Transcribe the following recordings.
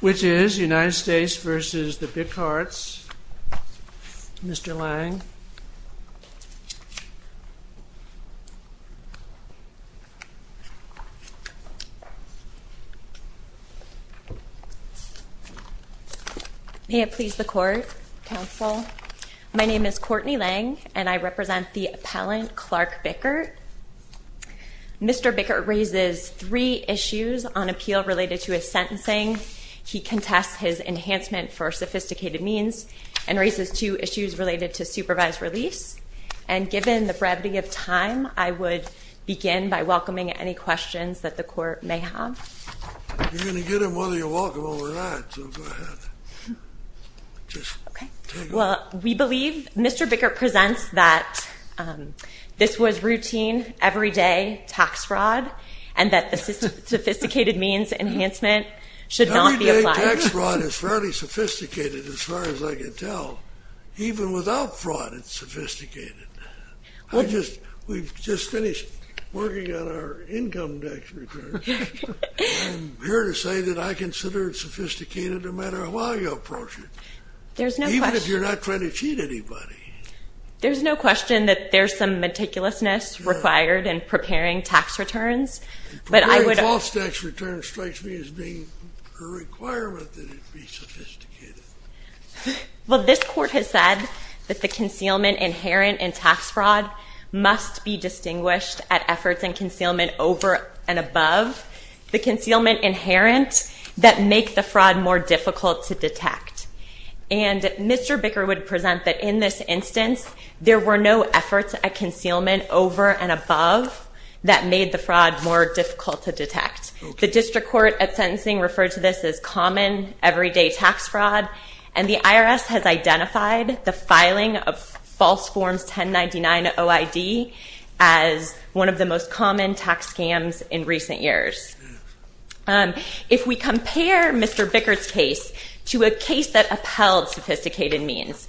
which is United States v. the Bickarts. Mr. Lange. May it please the court, counsel. My name is Courtney Lange and I represent the United States v. the Bickarts. I have three issues on appeal related to his sentencing. He contests his enhancement for sophisticated means and raises two issues related to supervised release. And given the brevity of time, I would begin by welcoming any questions that the court may have. You're going to get him whether you want him or not, so go ahead. Just take it. Okay. Well, we believe Mr. Bickart presents that this was routine, everyday tax fraud and that the sophisticated means enhancement should not be applied. Everyday tax fraud is fairly sophisticated as far as I can tell. Even without fraud, it's sophisticated. We've just finished working on our income tax return. I'm here to say that I consider it sophisticated no matter how I approach it. Even if you're not trying to cheat anybody. There's no question that there's some meticulousness required in preparing tax returns. But I would... Preparing false tax returns strikes me as being a requirement that it be sophisticated. Well, this court has said that the concealment inherent in tax fraud must be distinguished at efforts in concealment over and above the concealment inherent that make the fraud more difficult to detect. The district court at sentencing referred to this as common everyday tax fraud. And the IRS has identified the filing of false forms 1099-OID as one of the most common tax scams in recent years. If we compare Mr. Bickart's case to a case that upheld sophisticated means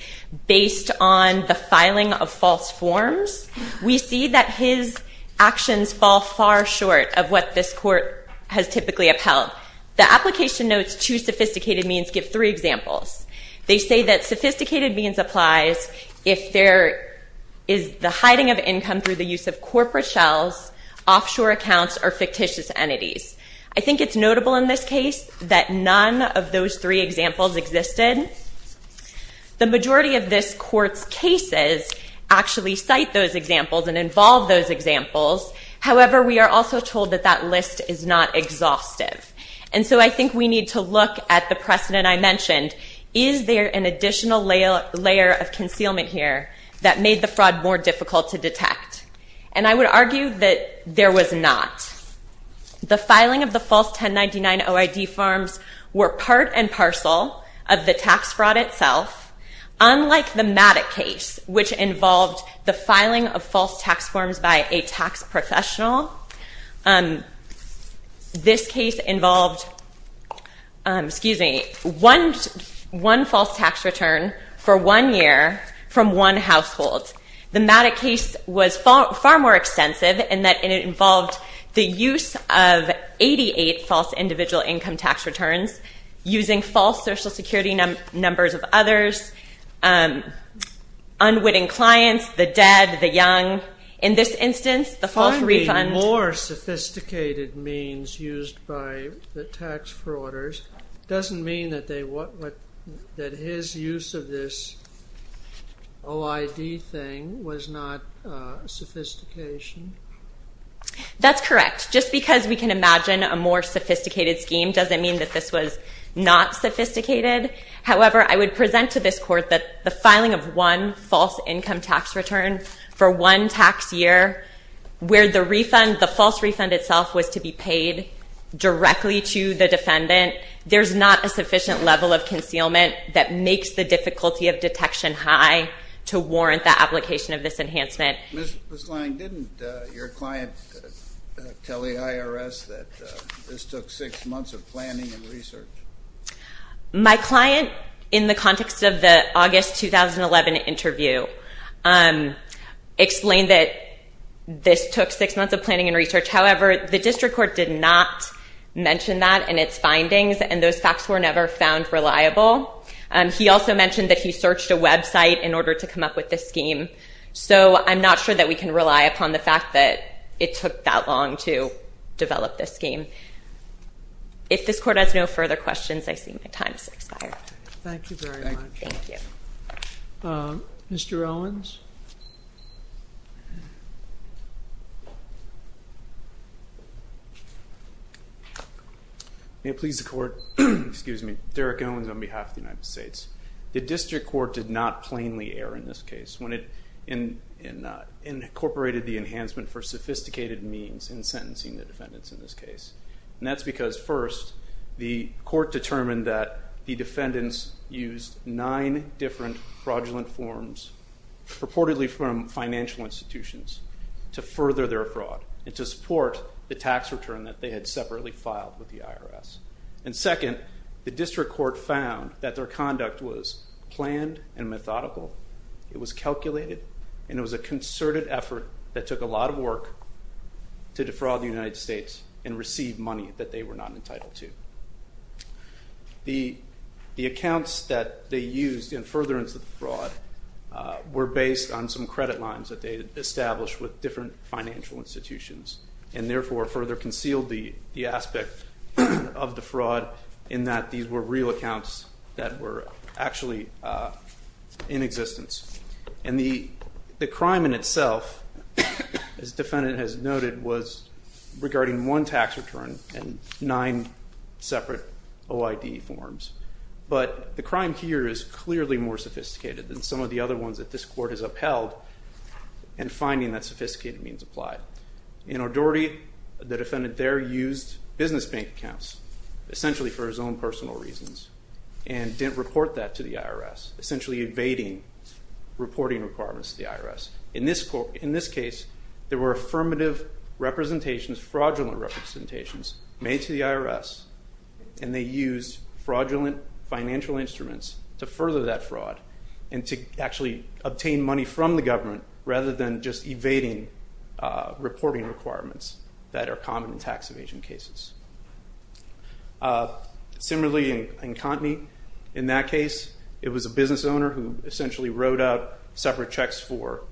based on the filing of false forms 1099-OID, we can see that the IRS has identified the filing of false forms. We see that his actions fall far short of what this court has typically upheld. The application notes two sophisticated means give three examples. They say that sophisticated means applies if there is the hiding of income through the use of corporate shells, offshore accounts, or fictitious entities. I think it's notable in this case that none of those three examples existed. The majority of this court's cases actually cite those examples and involve those examples. However, we are also told that that list is not exhaustive. And so I think we need to look at the precedent I mentioned. Is there an additional layer of concealment here that made the fraud more difficult to detect? And I would argue that there was not. The filing of the false 1099-OID forms were part and parcel of the tax fraud itself. Unlike the MATIC case, which involved the filing of false tax forms by a tax professional, this case involved one false tax return for one year from one household. The MATIC case was far more extensive in that it involved the use of 88 false individual income tax returns using false Social Security numbers of others, unwitting clients, the dead, the young. In this instance, the false refund... That's correct. Just because we can imagine a more sophisticated scheme doesn't mean that this was not sophisticated. However, I would present to this court that the filing of one false income tax return for one tax year where the refund, the false refund itself, was to be paid directly to the defendant, there's not a sufficient level of concealment that will warrant the application of this enhancement. Ms. Lange, didn't your client tell the IRS that this took six months of planning and research? My client, in the context of the August 2011 interview, explained that this took six months of planning and research. However, the district court did not mention that in its findings and those facts were never found reliable. He also mentioned that he searched a website in order to come up with this scheme. So I'm not sure that we can rely upon the fact that it took that long to develop this scheme. If this court has no further questions, I see my time has expired. Thank you very much. Thank you. Mr. Owens? May it please the court? Excuse me. Derek Owens on behalf of the United States. The case incorporated the enhancement for sophisticated means in sentencing the defendants in this case. And that's because first, the court determined that the defendants used nine different fraudulent forms purportedly from financial institutions to further their fraud and to support the tax return that they had separately filed with the IRS. And second, the district court found that their conduct was planned and methodical. It was calculated and it was a concerted effort that took a lot of work to defraud the United States and receive money that they were not entitled to. The accounts that they used in furtherance of the fraud were based on some credit lines that they established with different financial institutions and therefore further concealed the aspect of the fraud in that these were real accounts that were actually in existence. And the crime in itself, as the defendant has noted, was regarding one tax return and nine separate OID forms. But the crime here is clearly more sophisticated than some of the other ones that this court has upheld in finding that an authority, the defendant there, used business bank accounts essentially for his own personal reasons and didn't report that to the IRS, essentially evading reporting requirements to the IRS. In this case, there were affirmative representations, fraudulent representations made to the IRS and they used fraudulent financial instruments to further that fraud and to actually obtain money from the government rather than just evading reporting requirements that are common in tax evasion cases. Similarly, in Contney, in that case, it was a business owner who essentially wrote out separate checks for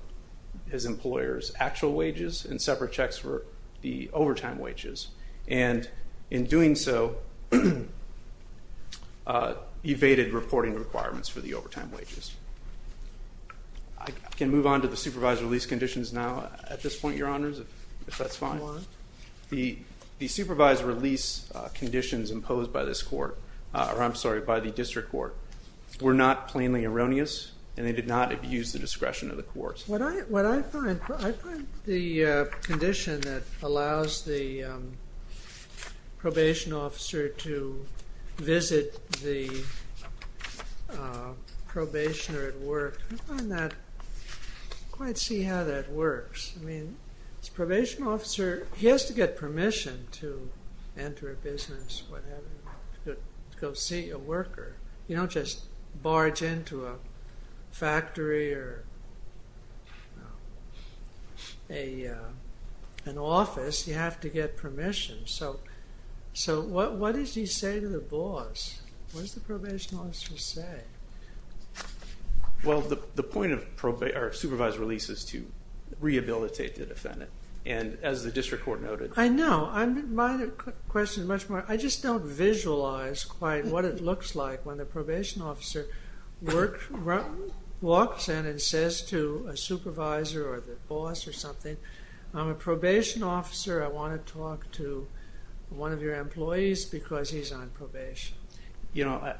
his employer's actual wages and separate checks for the overtime wages. And in doing so, evaded reporting requirements for the I can move on to the supervised release conditions now at this point, Your Honors, if that's fine. The supervised release conditions imposed by this court, or I'm sorry, by the district court, were not plainly erroneous and they did not abuse the discretion of the courts. What I find, I find the condition that allows the probation officer to visit the probationer at work, I find that, I can't quite see how that works. I mean, this probation officer, he has to get permission to enter a business, whatever, to go see a worker. You don't just barge into a factory or an office. You have to get permission. So, what does he say to the boss? What does the probation officer say? Well, the point of supervised release is to rehabilitate the defendant, and as the district court noted I know. My question is much more, I just don't visualize quite what it looks like when the probation officer walks in and says to a supervisor or the boss or something, I'm a probation officer, I want to talk to one of your employees because he's on probation.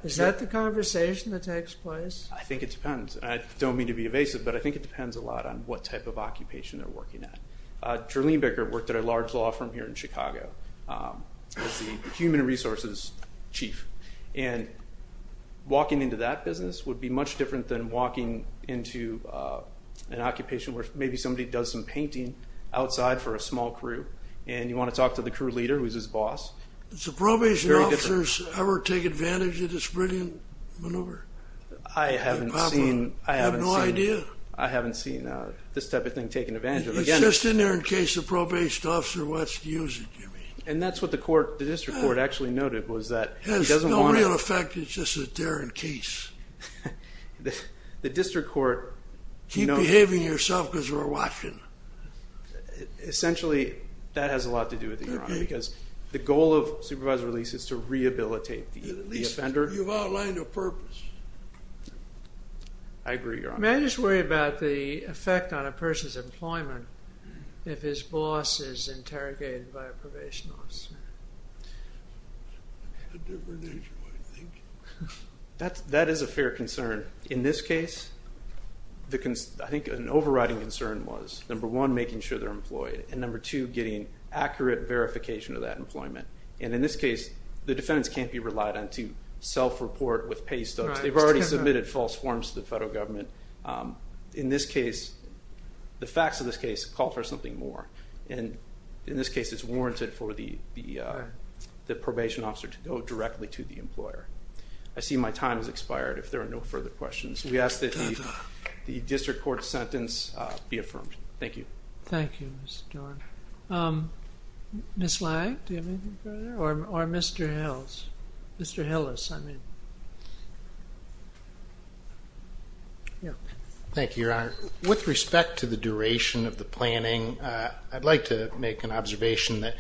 Is that the conversation that takes place? I think it depends. I don't mean to be evasive, but I think it depends a lot on what type of occupation they're working at. Jolene Becker worked at a large law firm here in Chicago as the human resources chief, and walking into that business would be much different than walking into an occupation where maybe somebody does some painting outside for a small crew, and you want to talk to the crew leader, who's his boss. Do the probation officers ever take advantage of this brilliant maneuver? I haven't seen this type of thing taken advantage of. It's just in there in case the probation officer wants to use it, you mean. And that's what the district court actually noted. It has no real effect, it's just that they're in case. Keep behaving yourself because we're watching. Essentially, that has a lot to do with it, Your Honor, because the goal of supervised release is to rehabilitate the offender. At least you've outlined a purpose. I agree, Your Honor. May I just worry about the effect on a person's employment if his boss is interrogated by a probation officer? A different issue, I think. That is a fair concern. In this case, I think an overriding concern was, number one, making sure they're employed, and number two, getting accurate verification of that employment. And in this case, the defendants can't be relied on to self-report with pay stubs. They've already submitted false forms to the federal government. In this case, the facts of this case call for something more. In this case, it's warranted for the probation officer to go directly to the employer. I see my time has expired. If there are no further questions, we ask that the district court sentence be affirmed. Thank you. Thank you, Mr. Dorn. Ms. Lang, do you have anything further? Or Mr. Hillis. Thank you, Your Honor. With respect to the duration of the planning, I'd like to make an observation that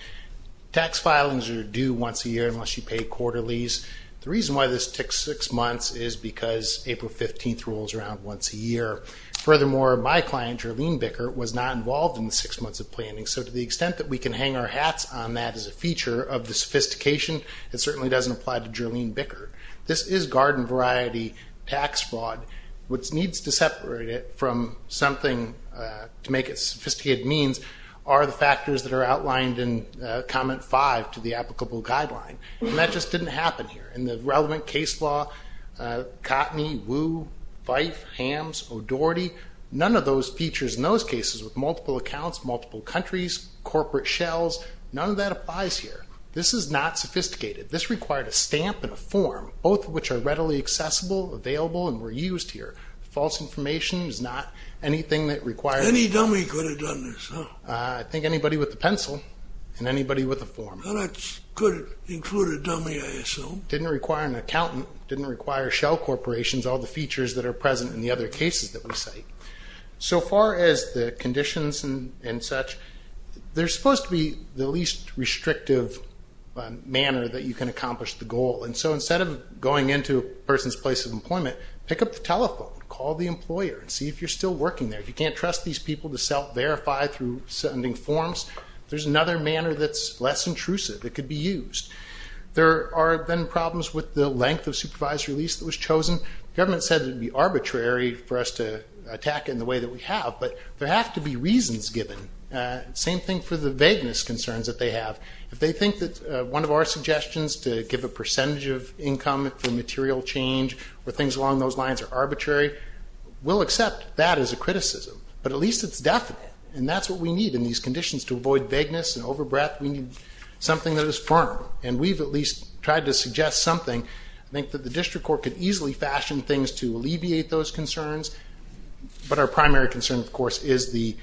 tax filings are due once a year unless you pay quarterlies. The reason why this takes six months is because April 15th rolls around once a year. Furthermore, my client, Jarlene Bicker, was not involved in the six months of planning, so to the extent that we can hang our hats on that as a feature of the sophistication, it certainly doesn't apply to Jarlene Bicker. This is garden variety tax fraud. What needs to separate it from something to make it sophisticated means are the factors that are outlined in comment five to the applicable guideline, and that just didn't happen here. In the relevant case law, Cotney, Wu, Fife, Hams, O'Doherty, none of those features in those cases with multiple accounts, multiple countries, corporate shells, none of that applies here. This is not sophisticated. This required a stamp and a form, both of which are readily accessible, available, and were used here. False information is not anything that required. Any dummy could have done this, huh? I think anybody with a pencil and anybody with a form. That could include a dummy, I assume. Didn't require an accountant, didn't require shell corporations, all the features that are present in the other cases that we cite. So far as the conditions and such, they're supposed to be the least restrictive manner that you can accomplish the goal. And so instead of going into a person's place of employment, pick up the telephone, call the employer, and see if you're still working there. If you can't trust these people to self-verify through sending forms, there's another manner that's less intrusive that could be used. There are then problems with the length of supervised release that was chosen. The government said it would be arbitrary for us to attack it in the way that we have, but there have to be reasons given. Same thing for the vagueness concerns that they have. If they think that one of our suggestions to give a percentage of income for material change or things along those lines are arbitrary, we'll accept that as a criticism. But at least it's definite, and that's what we need in these conditions. To avoid vagueness and overbreath, we need something that is firm, and we've at least tried to suggest something. I think that the district court could easily fashion things to alleviate those concerns, but our primary concern, of course, is the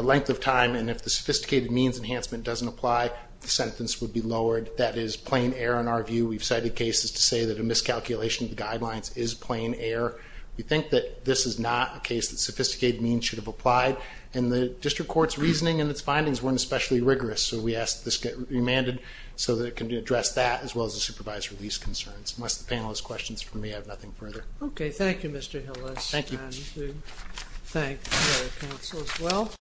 length of time, and if the sophisticated means enhancement doesn't apply, the sentence would be lowered. That is plain error in our view. We've cited cases to say that a miscalculation of the guidelines is plain error. We think that this is not a case that sophisticated means should have applied, and the district court's reasoning and its findings weren't especially rigorous, so we ask that this get remanded so that it can address that as well as the supervised release concerns. Unless the panel has questions for me, I have nothing further. Okay. Thank you, Mr. Hillis. Thank you. And we thank the other counsel as well.